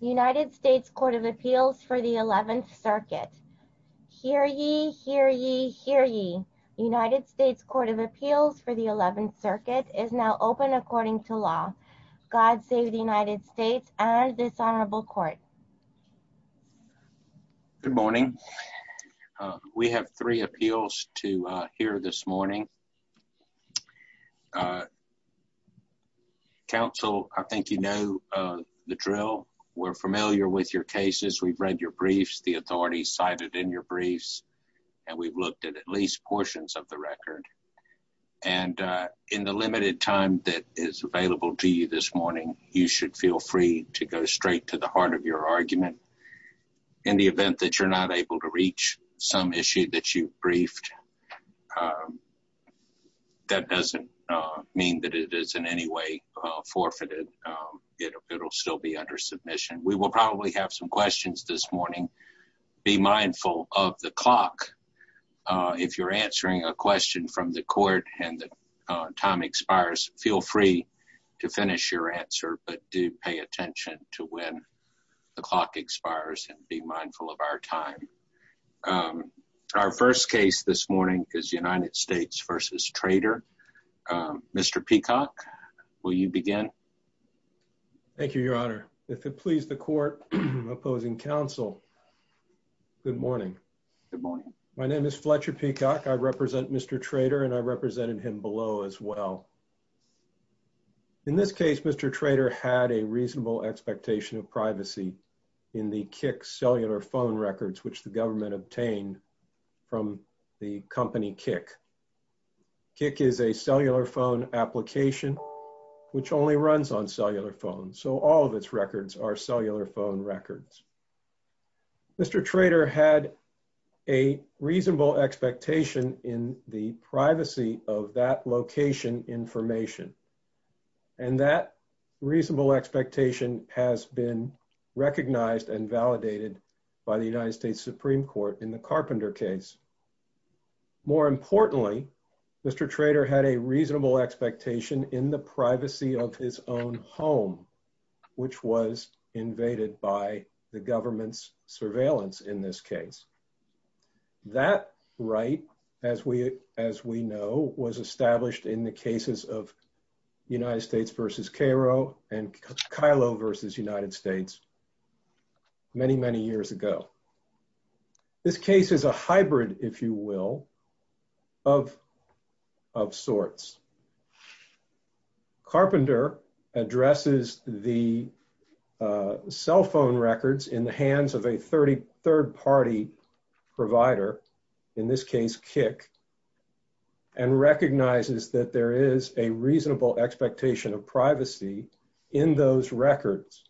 United States Court of Appeals for the 11th Circuit. Hear ye, hear ye, hear ye. United States Court of Appeals for the 11th Circuit is now open according to law. God save the United States and this honorable court. Good morning. We have three appeals to hear this morning. Council, I think you know the drill. We're familiar with your cases. We've read your briefs, the authorities cited in your briefs, and we've looked at at least portions of the record. And in the limited time that is available to you this morning, you should feel free to go straight to the heart of your argument in the event that you're not able to issue briefed. That doesn't mean that it is in any way forfeited. It'll still be under submission. We will probably have some questions this morning. Be mindful of the clock. If you're answering a question from the court and the time expires, feel free to finish your answer, but do pay attention to when the clock starts. Our first case this morning is United States v. Trader. Mr. Peacock, will you begin? Thank you, Your Honor. If it please the court opposing counsel, good morning. My name is Fletcher Peacock. I represent Mr. Trader and I represented him below as well. In this case, Mr. Trader had a reasonable expectation of privacy in the Kik cellular phone records which the government obtained from the company Kik. Kik is a cellular phone application which only runs on cellular phones, so all of its records are cellular phone records. Mr. Trader had a reasonable expectation in the privacy of that location information, and that reasonable expectation has been recognized and validated by the United States Supreme Court in the Carpenter case. More importantly, Mr. Trader had a reasonable expectation in the privacy of his own home, which was invaded by the government's surveillance in this case. That right, as we know, was Kylo versus United States many, many years ago. This case is a hybrid, if you will, of sorts. Carpenter addresses the cell phone records in the hands of a third-party provider, in this case Kik, and recognizes that there is a threat to those records.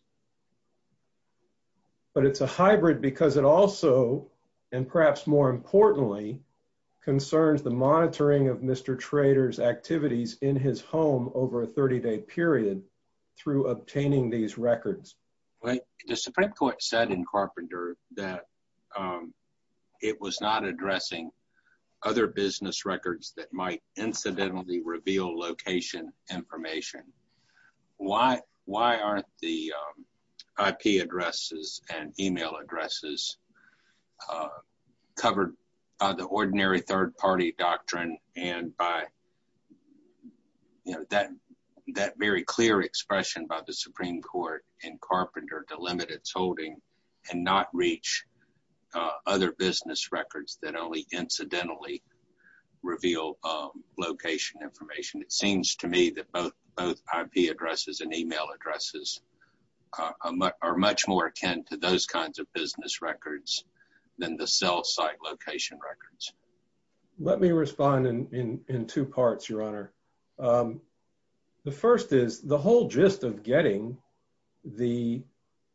But it's a hybrid because it also, and perhaps more importantly, concerns the monitoring of Mr. Trader's activities in his home over a 30-day period through obtaining these records. The Supreme Court said in Carpenter that it was not addressing other business records that might incidentally reveal location information. Why aren't the IP addresses and email addresses covered by the ordinary third-party doctrine and by that very clear expression by the Supreme Court in Carpenter to limit its holding and not reach other business records that only incidentally reveal location information? It seems to me that both IP addresses and email addresses are much more akin to those kinds of business records than the cell site location records. Let me respond in two parts, Your Honor. The first is the whole gist of getting the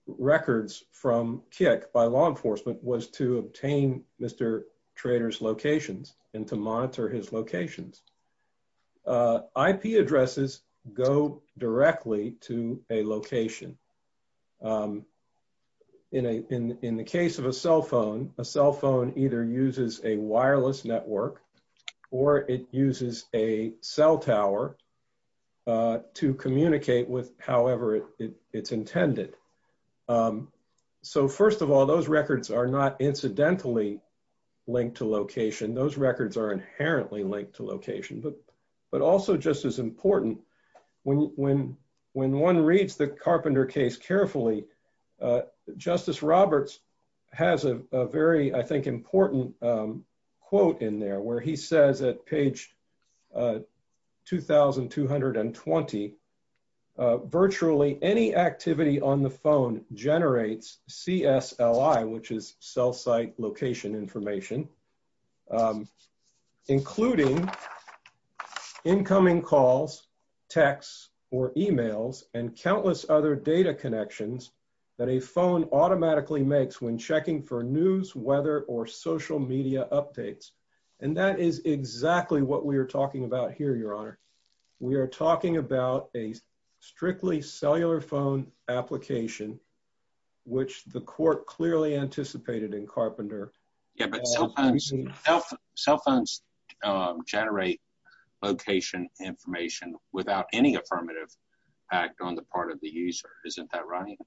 records from Kik by law enforcement was to obtain Mr. Trader's locations and to monitor his locations. IP addresses go directly to a location. In the case of a cell phone, a cell phone either uses a wireless network or it however it's intended. So first of all, those records are not incidentally linked to location. Those records are inherently linked to location. But also just as important, when one reads the Carpenter case carefully, Justice Roberts has a very, I think, important quote in there where he says at page 2,220, virtually any activity on the phone generates CSLI, which is cell site location information, including incoming calls, texts, or emails and countless other data connections that a phone automatically makes when checking for a location. So what we're talking about here, Your Honor, we are talking about a strictly cellular phone application, which the court clearly anticipated in Carpenter. Yeah, but cell phones generate location information without any affirmative act on the part of the user. Isn't that right?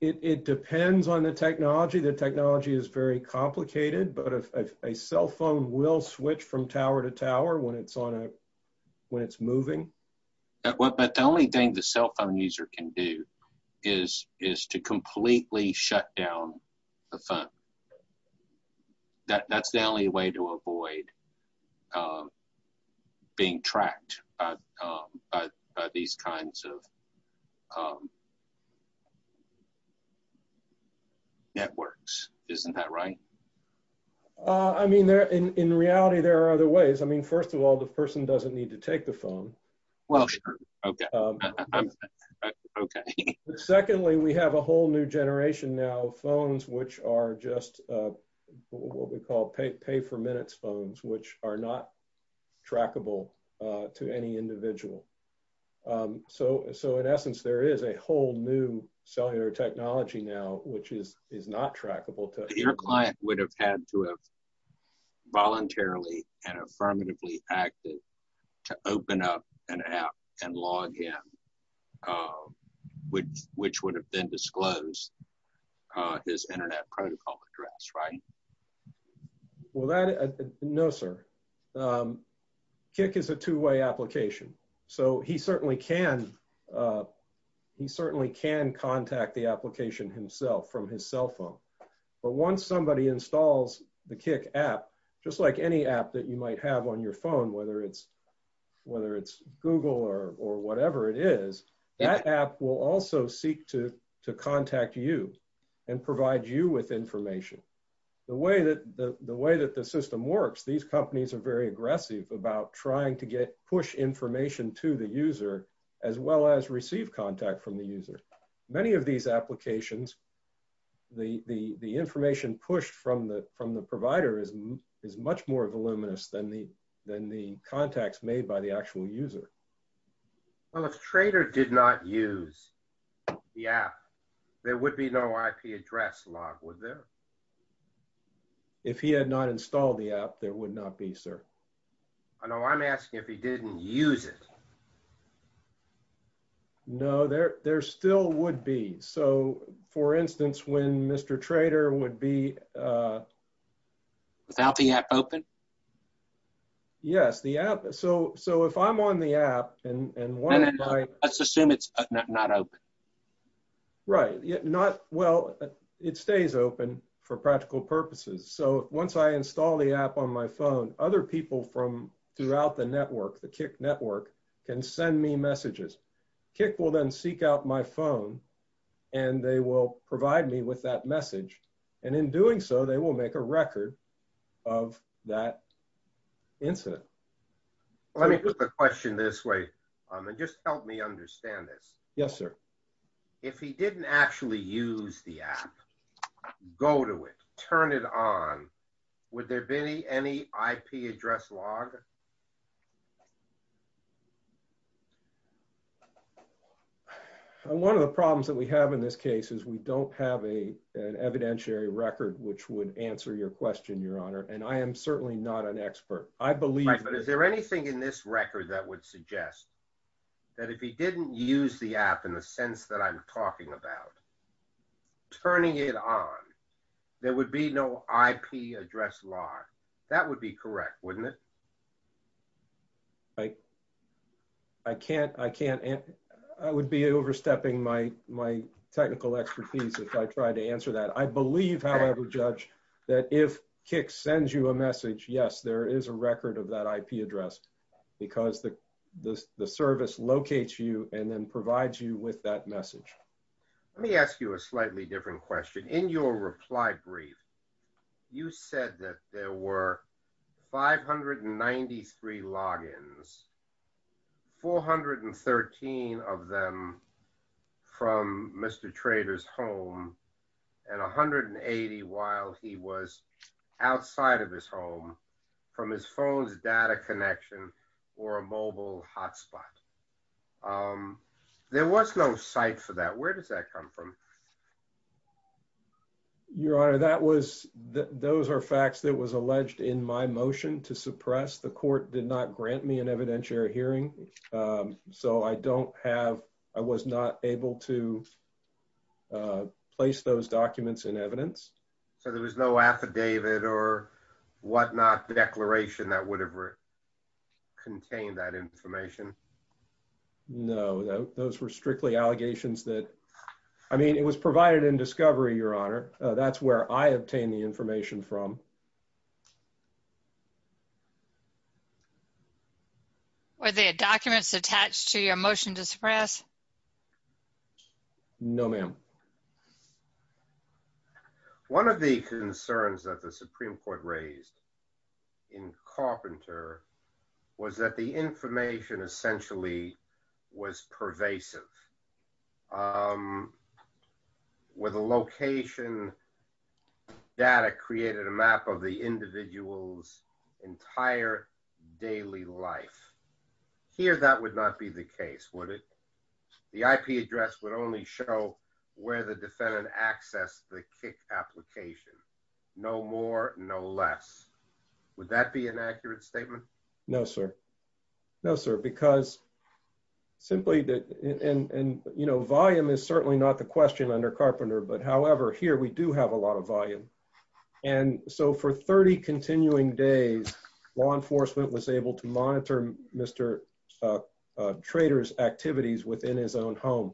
It depends on the technology. The technology is very complicated, but if a cell phone will switch from tower to tower when it's on a, when it's moving. But the only thing the cell phone user can do is to completely shut down the phone. That's the only way to avoid being tracked by these kinds of networks. Isn't that right? I mean, in reality, there are other ways. I mean, first of all, the person doesn't need to take the phone. Well, sure. Okay. Secondly, we have a whole new generation now, phones which are just what we call pay for minutes phones, which are not trackable to any individual. So in essence, there is a whole new cellular technology now, which is not trackable. Your client would have had to have voluntarily and affirmatively acted to open up an app and log in, which would have then disclosed his internet protocol address, right? Well, that, no sir. Kik is a two-way application, so he certainly can, he certainly can contact the application himself from his cell phone. But once somebody installs the Kik app, just like any app that you might have on your phone, whether it's Google or whatever it is, that app will also seek to contact you and provide you with information. The way that the system works, these companies are very aggressive about trying to get push information to the user as well as receive contact from the user. Many of these applications, the information pushed from the provider is much more voluminous than the contacts made by the actual user. Well, if Trader did not use the app, there would be no IP address log, would there? If he had not installed the app, there would not be, sir. I know I'm asking if he didn't use it. No, there still would be. So for instance, when Mr. Trader would be, without the app open? Yes, the app, so if I'm on the app, and let's assume it's not open. Right, not, well, it stays open for practical purposes. So once I install the app on my phone, other people from throughout the network, the Kik network, can send me messages. Kik will then seek out my phone and they will provide me with that message, and in doing so, they will make a record of that incident. Let me put the question this way, and just help me understand this. Yes, sir. If he didn't actually use the app, go to it, turn it on, would there be any IP address log? One of the problems that we have in this case is we don't have an evidentiary record which would answer your question, Your Honor, and I am certainly not an expert. I believe... Right, but is there anything in this record that would suggest that if he didn't use the app, in the sense that I'm talking about, turning it on, there would be no IP address log? That would be correct, wouldn't it? I can't, I can't, I would be overstepping my, my technical expertise if I tried to answer that. I believe, however, Judge, that if Kik sends you a message, yes, there is a record of that IP address, because the service locates you and then provides you with that message. Let me ask you a slightly different question. In your reply brief, you said that there were 593 logins, 413 of them from Mr. Trader's home, and 180 while he was outside of his home, from his phone's data connection or a mobile hotspot. There was no site for that. Where does that come from? Your Honor, that was, those are facts that was alleged in my motion to suppress. The court did not grant me an evidentiary hearing, so I don't have, I was not able to place those documents in evidence. So there was no declaration that would have contained that information? No, those were strictly allegations that, I mean, it was provided in discovery, Your Honor. That's where I obtained the information from. Were there documents attached to your motion to Supreme Court raised in Carpenter was that the information essentially was pervasive? Were the location data created a map of the individual's entire daily life? Here that would not be the case, would it? The IP address would only show where the defendant accessed the KIC application. No more, no less. Would that be an accurate statement? No, sir. No, sir. Because simply that, and you know, volume is certainly not the question under Carpenter. But however, here we do have a lot of volume. And so for 30 continuing days, law enforcement was able to monitor Mr. Trader's activities within his own home.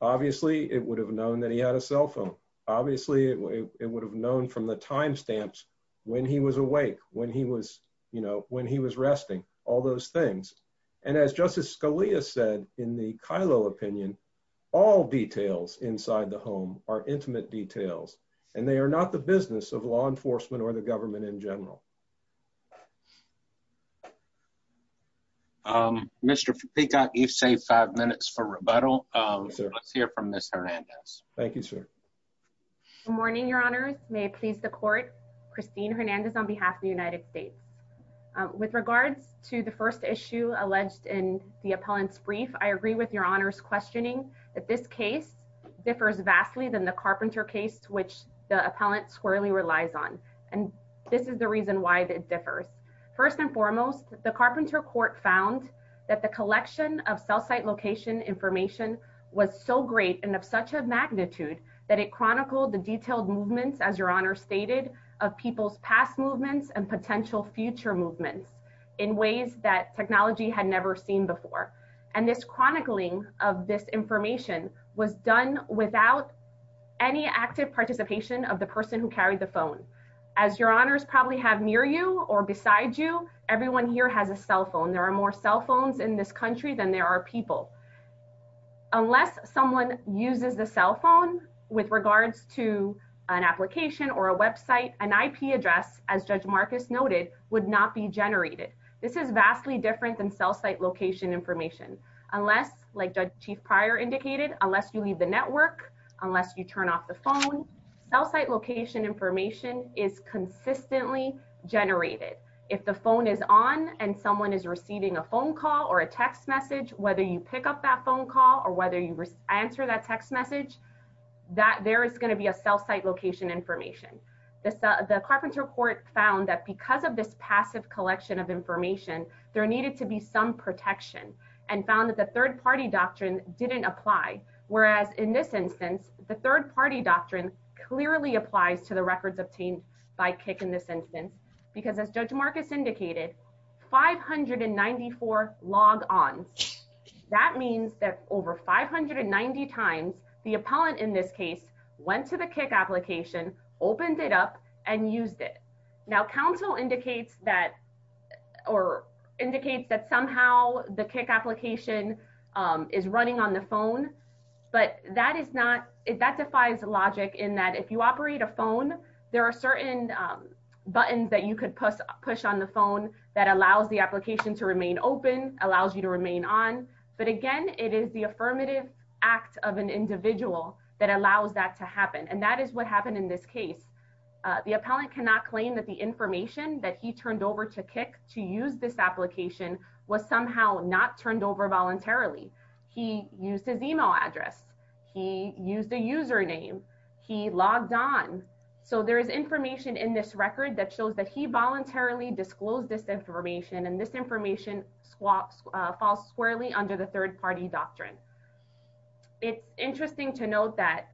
Obviously, it would have known that he had a cell phone. Obviously, it would have known from the timestamps when he was awake, when he was, you know, when he was resting, all those things. And as Justice Scalia said, in the Kylo opinion, all details inside the home are intimate details, and they are not the business of law enforcement or the government in general. Mr. Peacock, you've saved five minutes for rebuttal. Let's hear from Ms. Hernandez. Thank you, sir. Good morning, Your Honors. May it please the Court. Christine Hernandez on behalf of the United States. With regards to the first issue alleged in the appellant's brief, I agree with Your Honor's questioning that this case differs vastly than the Carpenter case, which the appellant squarely relies on. And this is the reason why it differs. First and foremost, the Carpenter court found that the collection of cell site location information was so great and of such a magnitude that it chronicled the detailed movements, as Your Honor stated, of people's past movements and potential future movements in ways that technology had never seen before. And this chronicling of this information was done without any active participation of the person who carried the phone. As Your Honors probably have near you or beside you, everyone here has a cell phone. There are more cell phones in this country than there are people. Unless someone uses the cell phone with regards to an application or a website, an IP address, as Judge Marcus noted, would not be generated. This is vastly different than cell site location information, unless, like Judge Chief Pryor indicated, unless you leave the network, unless you turn off the phone. Cell site location information is consistently generated. If the phone is on and someone is receiving a phone call or a text message, whether you pick up that phone call or whether you answer that text message, that there is going to be a cell site location information. The Carpenter court found that because of this passive collection of information, there needed to be some protection and found that the third party doctrine didn't apply. Whereas in this instance, the third party doctrine clearly applies to the records obtained by kick in this instance, because as Judge Marcus indicated, 594 log ons. That means that over 590 times the appellant in this case, went to the kick application, opened it up and used it. Now counsel indicates that, or indicates that somehow the kick application is running on the phone. But that is not it that defies logic in that if you operate a phone, there are certain buttons that you could push, push on the phone that allows the application to remain open allows you to remain on. But again, it is the affirmative act of an individual that allows that to happen. And that is what happened in this case. The appellant cannot claim that the information that he turned over to kick to use this application was somehow not turned over voluntarily. He used his email address, he used a username, he logged on. So there is information in this record that shows that he voluntarily disclosed this information and this information swaps false squarely under the third party doctrine. It's interesting to note that,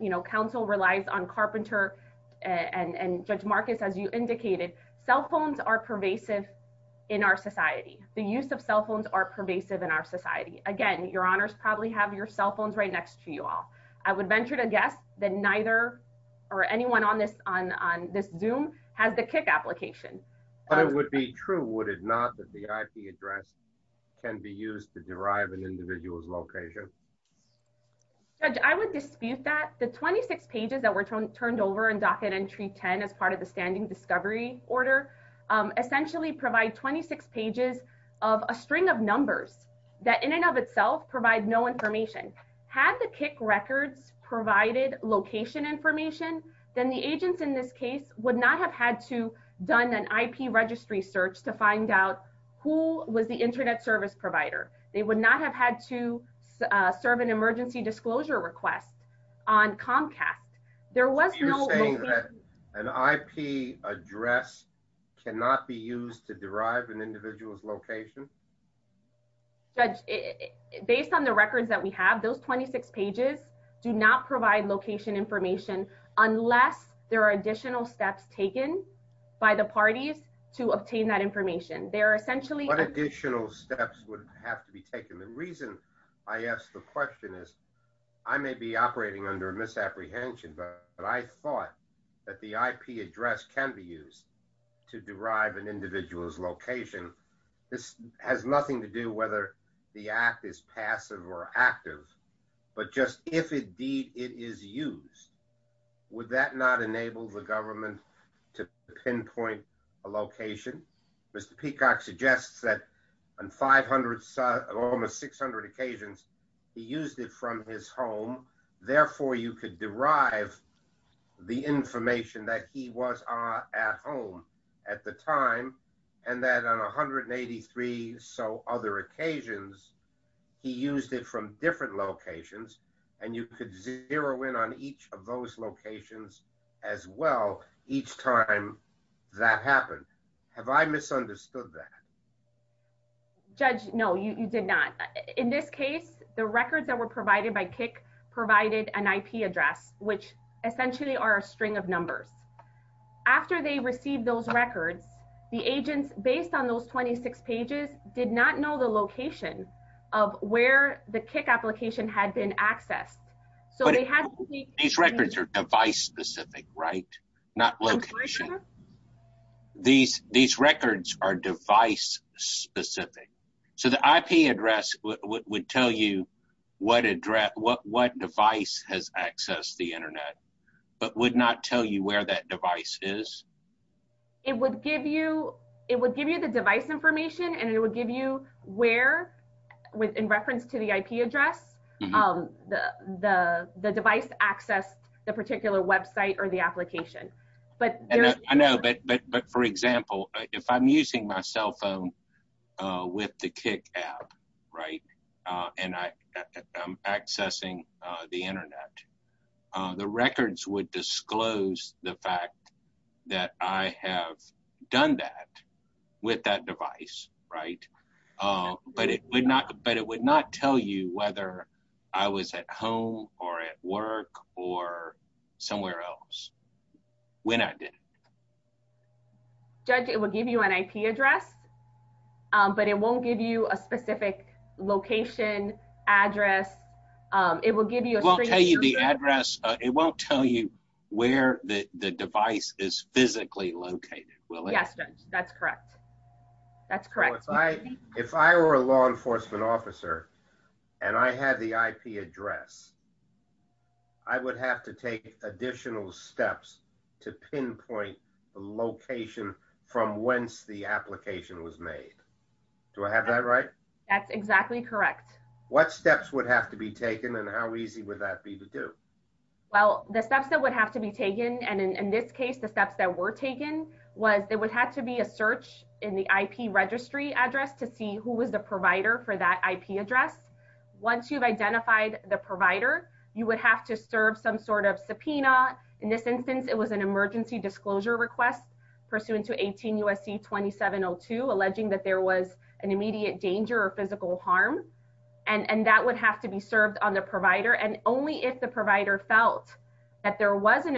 you know, counsel relies on carpenter, and Judge Marcus, as you indicated, cell phones are pervasive in our society, the use of cell phones are pervasive in our society. Again, your honors probably have your cell phones right next to you all, I would venture to guess that neither or anyone on this on this zoom has the kick application. But it would be true, would it not that the IP address can be used to derive an individual's location? Judge, I would dispute that the 26 pages that were turned turned over and docket entry 10, as part of the standing discovery order, essentially provide 26 pages of a string of numbers that in and of itself provide no information had the kick records provided location information, then the agents in this case would not have had to done an IP registry search to find out who was the to serve an emergency disclosure request on Comcast, there was no an IP address cannot be used to derive an individual's location. Judge, based on the records that we have, those 26 pages do not provide location information, unless there are additional steps taken by the parties to obtain that information. There are essentially additional steps would have to be taken. The reason I asked the question is, I may be operating under misapprehension, but I thought that the IP address can be used to derive an individual's location. This has nothing to do whether the act is passive or active. But just if indeed it is used, would that not enable the that on 500, almost 600 occasions, he used it from his home, therefore, you could derive the information that he was at home at the time, and that on 183. So other occasions, he used it from different locations. And you could zero in on each of those locations, as well, each time that happened. Have I misunderstood that? Judge, no, you did not. In this case, the records that were provided by kick provided an IP address, which essentially are a string of numbers. After they received those records, the agents based on those 26 pages did not know the location of where the kick application had been accessed. So they had these records are device specific, right? Not location. These these records are device specific. So the IP address would tell you what address what what device has accessed the internet, but would not tell you where that device is. It would give you it would give you the device information and it would give you where with in reference to the IP address, the the device access, the particular website or the application, but I know but but but for example, if I'm using my cell phone with the kick app, right, and I am accessing the internet, the records would disclose the fact that I have done that with that device, right. But it would not but it would not tell you whether I was at home or at work or somewhere else. When I did judge it will give you an IP address. But it won't give you a specific location address. It will give you the address, it won't tell you where the device is physically located. Well, yes, that's correct. That's correct. If I were a law enforcement officer, and I had the IP address, I would have to take additional steps to pinpoint the location from whence the application was made. Do I have that right? That's exactly correct. What steps would have to be taken? And how easy would that be to do? Well, the steps that would have to be taken, and in this case, the steps that were taken was there would have to be a search in the IP registry address to see who was the provider for that IP address. Once you've identified the provider, you would have to serve some sort of subpoena. In this instance, it was an emergency disclosure request pursuant to 18 USC 2702, alleging that there was an immediate danger or physical harm. And that would have to be served on the provider and only if the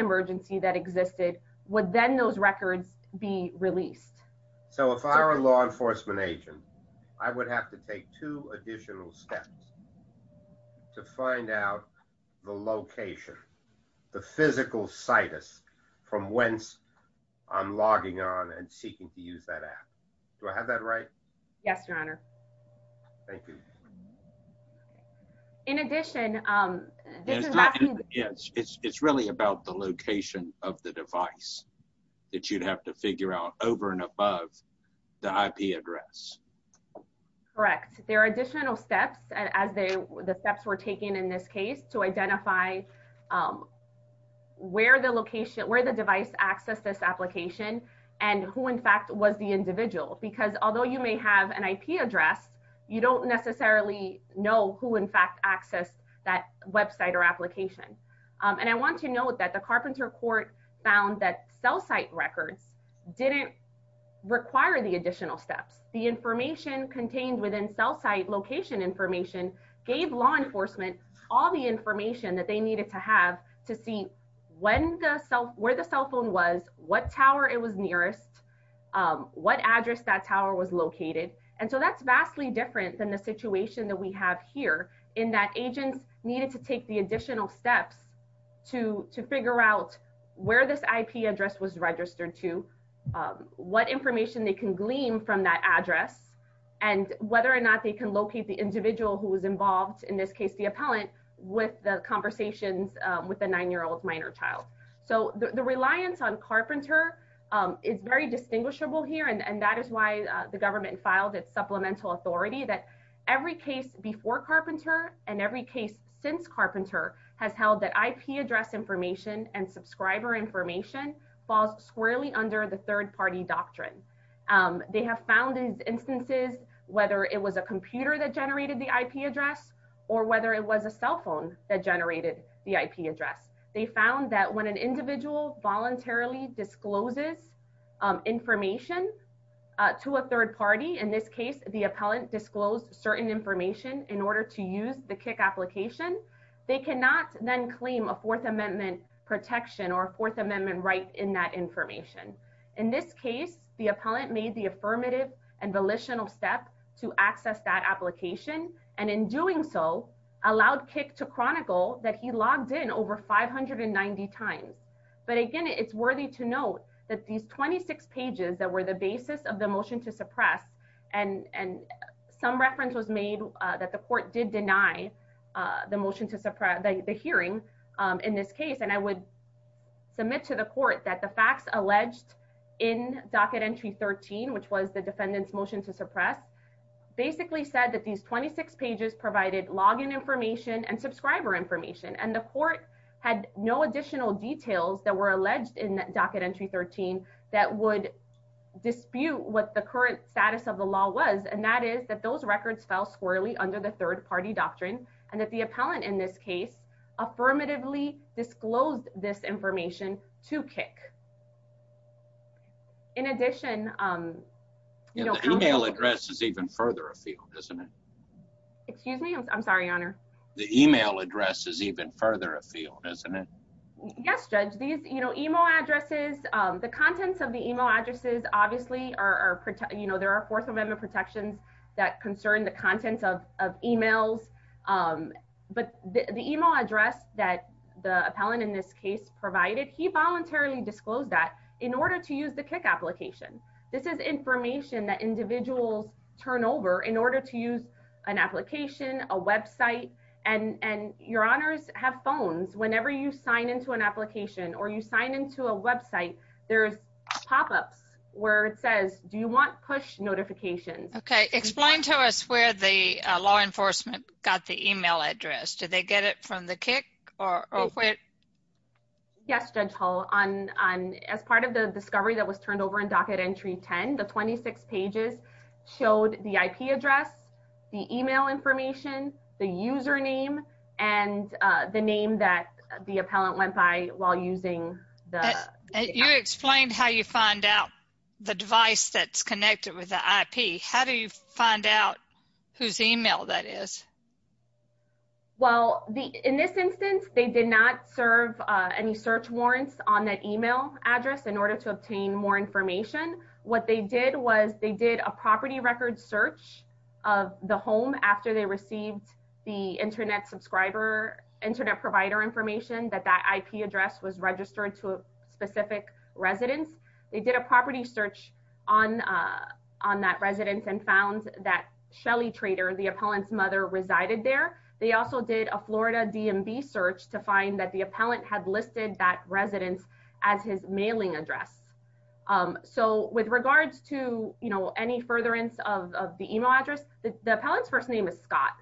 emergency that existed would then those records be released. So if I were a law enforcement agent, I would have to take two additional steps to find out the location, the physical situs from whence I'm logging on and seeking to use that app. Do I have that right? Yes, Your Honor. Thank you. In addition, yes, it's really about the location of the device that you'd have to figure out over and above the IP address. Correct. There are additional steps as they were the steps were taken in this case to identify where the location where the device access this application, and who in fact was the individual because although you may have an IP address, you don't necessarily know who in fact access that website or application. And I want to note that the carpenter court found that cell site records didn't require the additional steps the information contained within cell site location information gave law enforcement all the information that they needed to have to see when the cell where the cell phone was what tower it was nearest, what address that tower was located. And so that's vastly different than the situation that we have here in that agents needed to take the additional steps to to figure out where this IP address was registered to what information they can glean from that address, and whether or not they can locate the individual who was involved in this case, the appellant with the conversations with a nine year old minor child. So the reliance on carpenter is very distinguishable here. And that is why the government filed its supplemental authority that every case before carpenter and every case since carpenter has held that IP address information and subscriber information falls squarely under the third party doctrine. They have found instances, whether it was a computer that generated the IP address, or whether it was a cell phone that generated the IP address, they found that when an individual voluntarily discloses information to a third party, in this case, the appellant disclosed certain information in order to use the kick application, they cannot then claim a Fourth Amendment protection or Fourth Amendment right in that information. In this case, the appellant made the affirmative and volitional step to access that application, and in doing so, allowed kick to chronicle that he again, it's worthy to note that these 26 pages that were the basis of the motion to suppress, and and some reference was made that the court did deny the motion to suppress the hearing in this case, and I would submit to the court that the facts alleged in docket entry 13, which was the defendant's motion to suppress, basically said that these 26 pages provided login information and subscriber information. And the court had no additional details that were alleged in that docket entry 13, that would dispute what the current status of the law was. And that is that those records fell squarely under the third party doctrine, and that the appellant in this case, affirmatively disclosed this information to kick. In addition, email addresses even further afield, isn't it? Excuse me, I'm sorry, your honor. The email address is even further afield, isn't it? Yes, judge these, you know, email addresses, the contents of the email addresses, obviously are, you know, there are Fourth Amendment protections that concern the contents of emails. But the email address that the appellant in this case provided, he voluntarily disclosed that in order to use the kick application. This is information that individuals turn over in order to use an application, a website, and your honors have phones, whenever you sign into an application, or you sign into a website, there's pop ups, where it says, do you want push notifications? Okay, explain to us where the law enforcement got the email address. Did they get it from the kick? Yes, Judge Hull, as part of the discovery that was turned over in docket entry 10, the 26 pages showed the IP address, the email information, the username, and the name that the appellant went by while using that. You explained how you find out the device that's connected with the IP. How do you find out whose email that is? Well, the in this instance, they did not serve any search warrants on that email address in order to obtain more information. What they did was they did a property record search of the home after they received the internet subscriber internet provider information that that IP address was registered to a specific residence. They did a property search on on that residence and found that Shelly trader, the appellant's mother resided there. They also did a Florida DMV search to find that the appellant had listed that residence as his mailing address. So with regards to you know, any furtherance of the email address, the appellant's first name is Scott.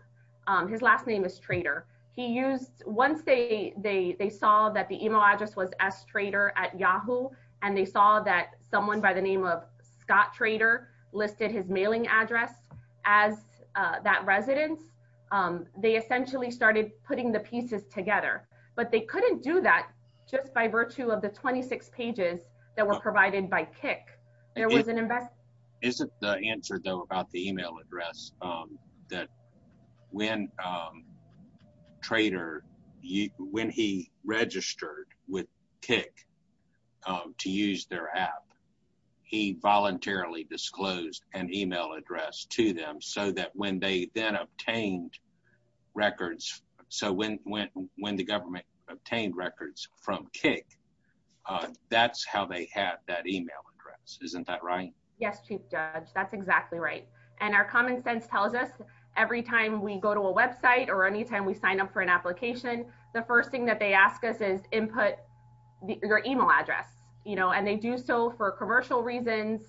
His last name is trader he used once they they saw that the email address was s trader at Yahoo. And they saw that someone by the name of Scott trader listed his mailing address as that residence. They But they couldn't do that just by virtue of the 26 pages that were provided by kick. There was an investment. Isn't the answer though about the email address that when trader you when he registered with kick to use their app, he voluntarily disclosed an email address to them so that when they then obtained records, so when when when the government obtained records from kick, that's how they had that email address. Isn't that right? Yes, Chief Judge, that's exactly right. And our common sense tells us, every time we go to a website, or anytime we sign up for an application, the first thing that they ask us is input your email address, you know, and they do so for commercial reasons.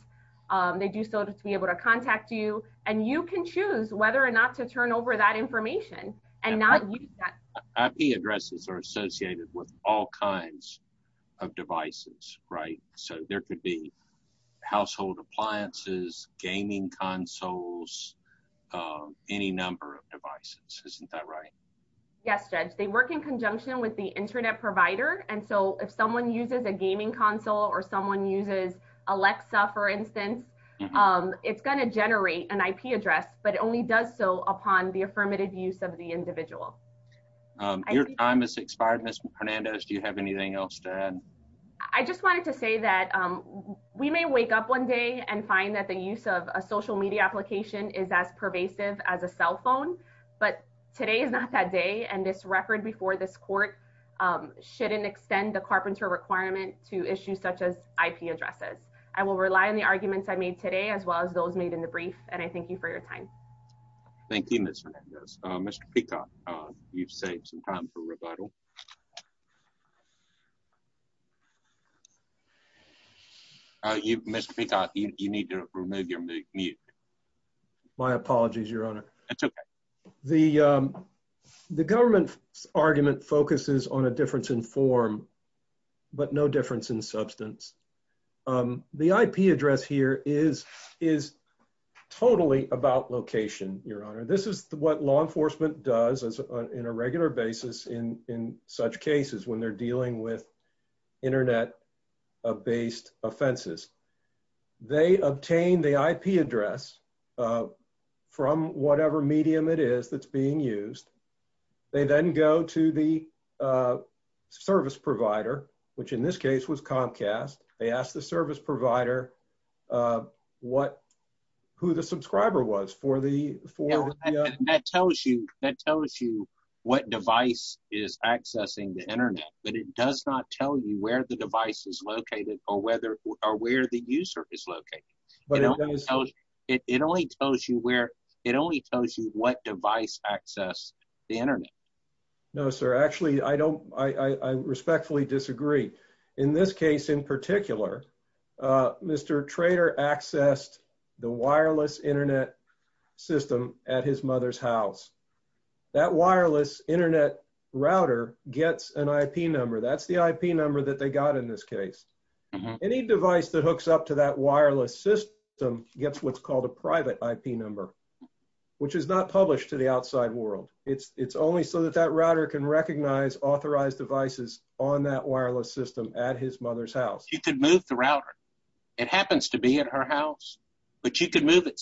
They do so to be able to contact you. And you can choose whether or not to turn over that information and not use that IP addresses are associated with all kinds of devices, right? So there could be household appliances, gaming consoles, any number of devices, isn't that right? Yes, Judge, they work in conjunction with the internet provider. And so if someone uses a gaming console, or someone uses Alexa, for instance, it's going to generate an IP address, but it only does so upon the affirmative use of the individual. Your time is expired, Ms. Hernandez, do you have anything else to add? I just wanted to say that we may wake up one day and find that the use of a social media application is as pervasive as a cell phone. But today is not that day. And this record before this court shouldn't extend the carpenter requirement to issues such as IP addresses. I will rely on the arguments I made today as well as those made in the brief. And I thank you for your time. Thank you, Mr. Hernandez. Mr. Peacock, you've saved some time for rebuttal. You Mr. Peacock, you need to remove your mute. My apologies, Your Honor. The, the government argument focuses on a difference in form, but no difference in substance. The IP address here is, is totally about location, Your Honor. This is what law enforcement does in a regular basis in in such cases when they're dealing with internet based offenses. They obtain the IP address from whatever medium it is that's being used. They then go to the service provider, which in this case was Comcast. They asked the service provider what, who the subscriber was for the for that tells you that tells you what device is accessing the internet, but it does not tell you where the device is located or whether or where the user is located. But it only tells you where it only tells you what device access the internet. No, sir. Actually, I don't I respectfully disagree. In this case, in particular, Mr. Trader accessed the wireless internet system at his mother's house. That wireless internet router gets an IP number. That's the IP number that they got in this case. Any device that hooks up to that wireless system gets what's called a private IP number, which is not published to the outside world. It's it's only so that that router can recognize authorized devices on that wireless system at his mother's house. You could move the router. It happens to be at her house. But you could move it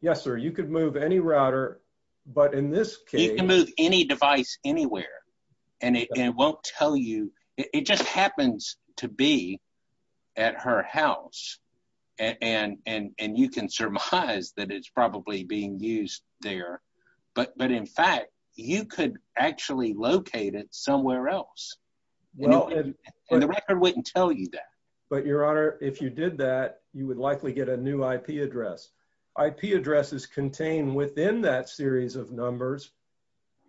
Yes, sir. You could move any router. But in this case, you can move any device anywhere. And it won't tell you it just happens to be at her house. And and and you can surmise that it's probably being used there. But but in fact, you could actually locate it somewhere else. Well, the record wouldn't tell you that. But Your Honor, if you did that, you would likely get a new IP address. IP addresses contained within that series of numbers,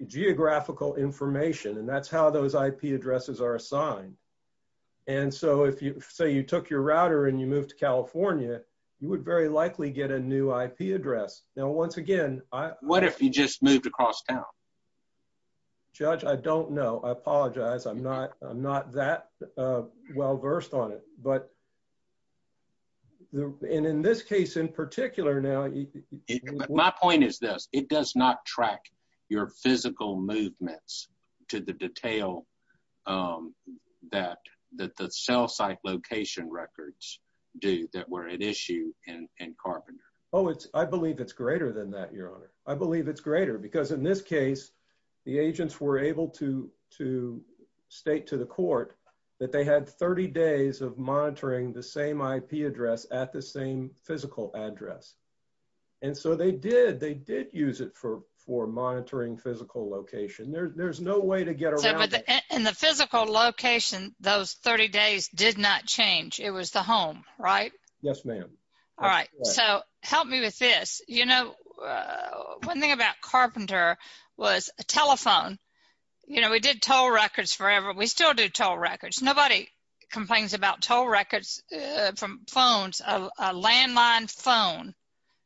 geographical information, and that's how those IP addresses are assigned. And so if you say you took your router and you moved to California, you would very likely get a new IP address. Now, once again, what if you just moved across town? Judge, I don't know. I apologize. I'm not I'm not that well versed on it. But in in this case, in particular, now, my point is this, it does not track your physical movements to the detail that that the cell site location records do that were at issue in Carpenter. Oh, it's I believe it's greater than that, Your Honor. I believe it's greater because in this case, the agents were able to to state to the court that they had 30 days of monitoring the same IP address at the same physical address. And so they did they did use it for for monitoring physical location, there's no way to get in the physical location, those 30 days did not change. It was the home, right? Yes, ma'am. All right, so help me with this. You know, one thing about Carpenter was a telephone. You know, we did toll records forever. We still do toll records. Nobody complains about toll records from phones, a landline phone,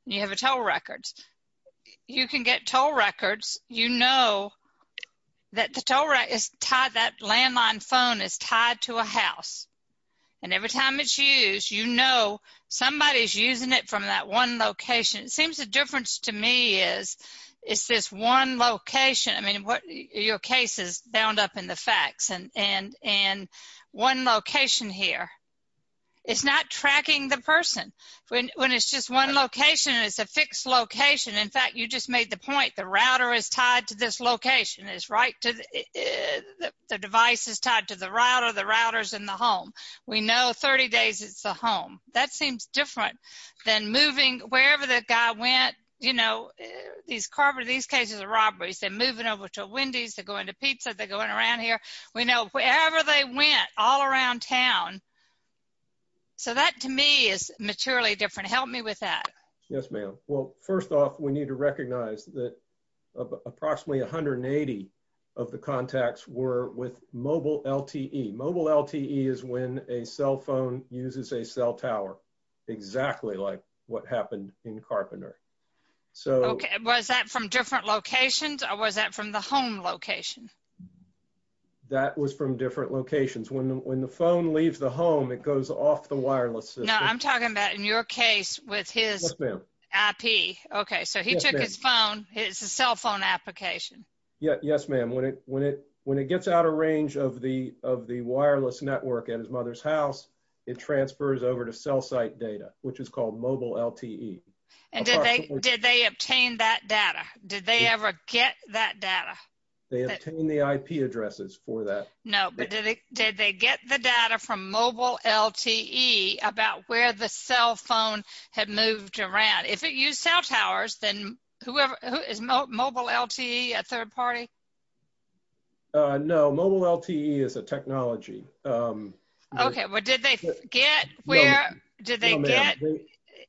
you have a toll records, you can get toll records, you know, that the toll rate is tied, that one location, it seems the difference to me is, is this one location? I mean, what your cases bound up in the facts and and and one location here is not tracking the person when it's just one location is a fixed location. In fact, you just made the point the router is tied to this location is right to the device is tied to the router, the routers in the home, we know 30 days, it's a home that seems different than moving wherever the guy went, you know, these carbon, these cases of robberies, they're moving over to Wendy's to go into pizza, they're going around here, we know wherever they went all around town. So that to me is maturely different. Help me with that. Yes, ma'am. Well, first off, we need to recognize that approximately 180 of the cell tower, exactly like what happened in Carpenter. So was that from different locations? Or was that from the home location? That was from different locations. When when the phone leaves the home, it goes off the wireless. Now I'm talking about in your case with his IP. Okay, so he took his phone. It's a cell phone application. Yeah, yes, ma'am. When it when it when it gets out of range of the of the over to cell site data, which is called mobile LTE. And did they did they obtain that data? Did they ever get that data? They obtained the IP addresses for that. No, but did they did they get the data from mobile LTE about where the cell phone had moved around? If it used cell towers, then whoever is mobile LTE a third party? No, mobile LTE is a technology. Okay, what did they get? Where did they get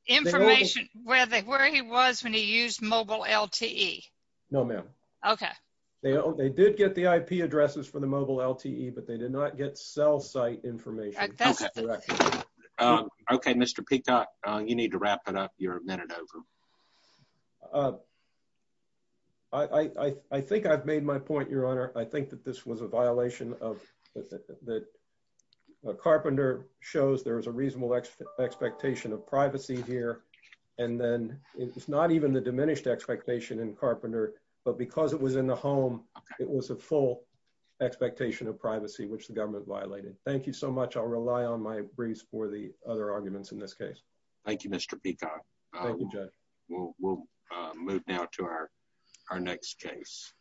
information where they where he was when he used mobile LTE? No, ma'am. Okay. They did get the IP addresses for the mobile LTE, but they did not get cell site information. Okay, Mr. Peacock, you need to wrap it up. You're a minute over. I think I've made my point, Your Honor. I think that this was a violation of the Carpenter shows there was a reasonable expectation of privacy here. And then it was not even the diminished expectation in Carpenter. But because it was in the home, it was a full expectation of privacy, which the government violated. Thank you so much. I'll rely on my briefs for the other arguments in this case. Thank you, Mr. Peacock. We'll move now to our our next case.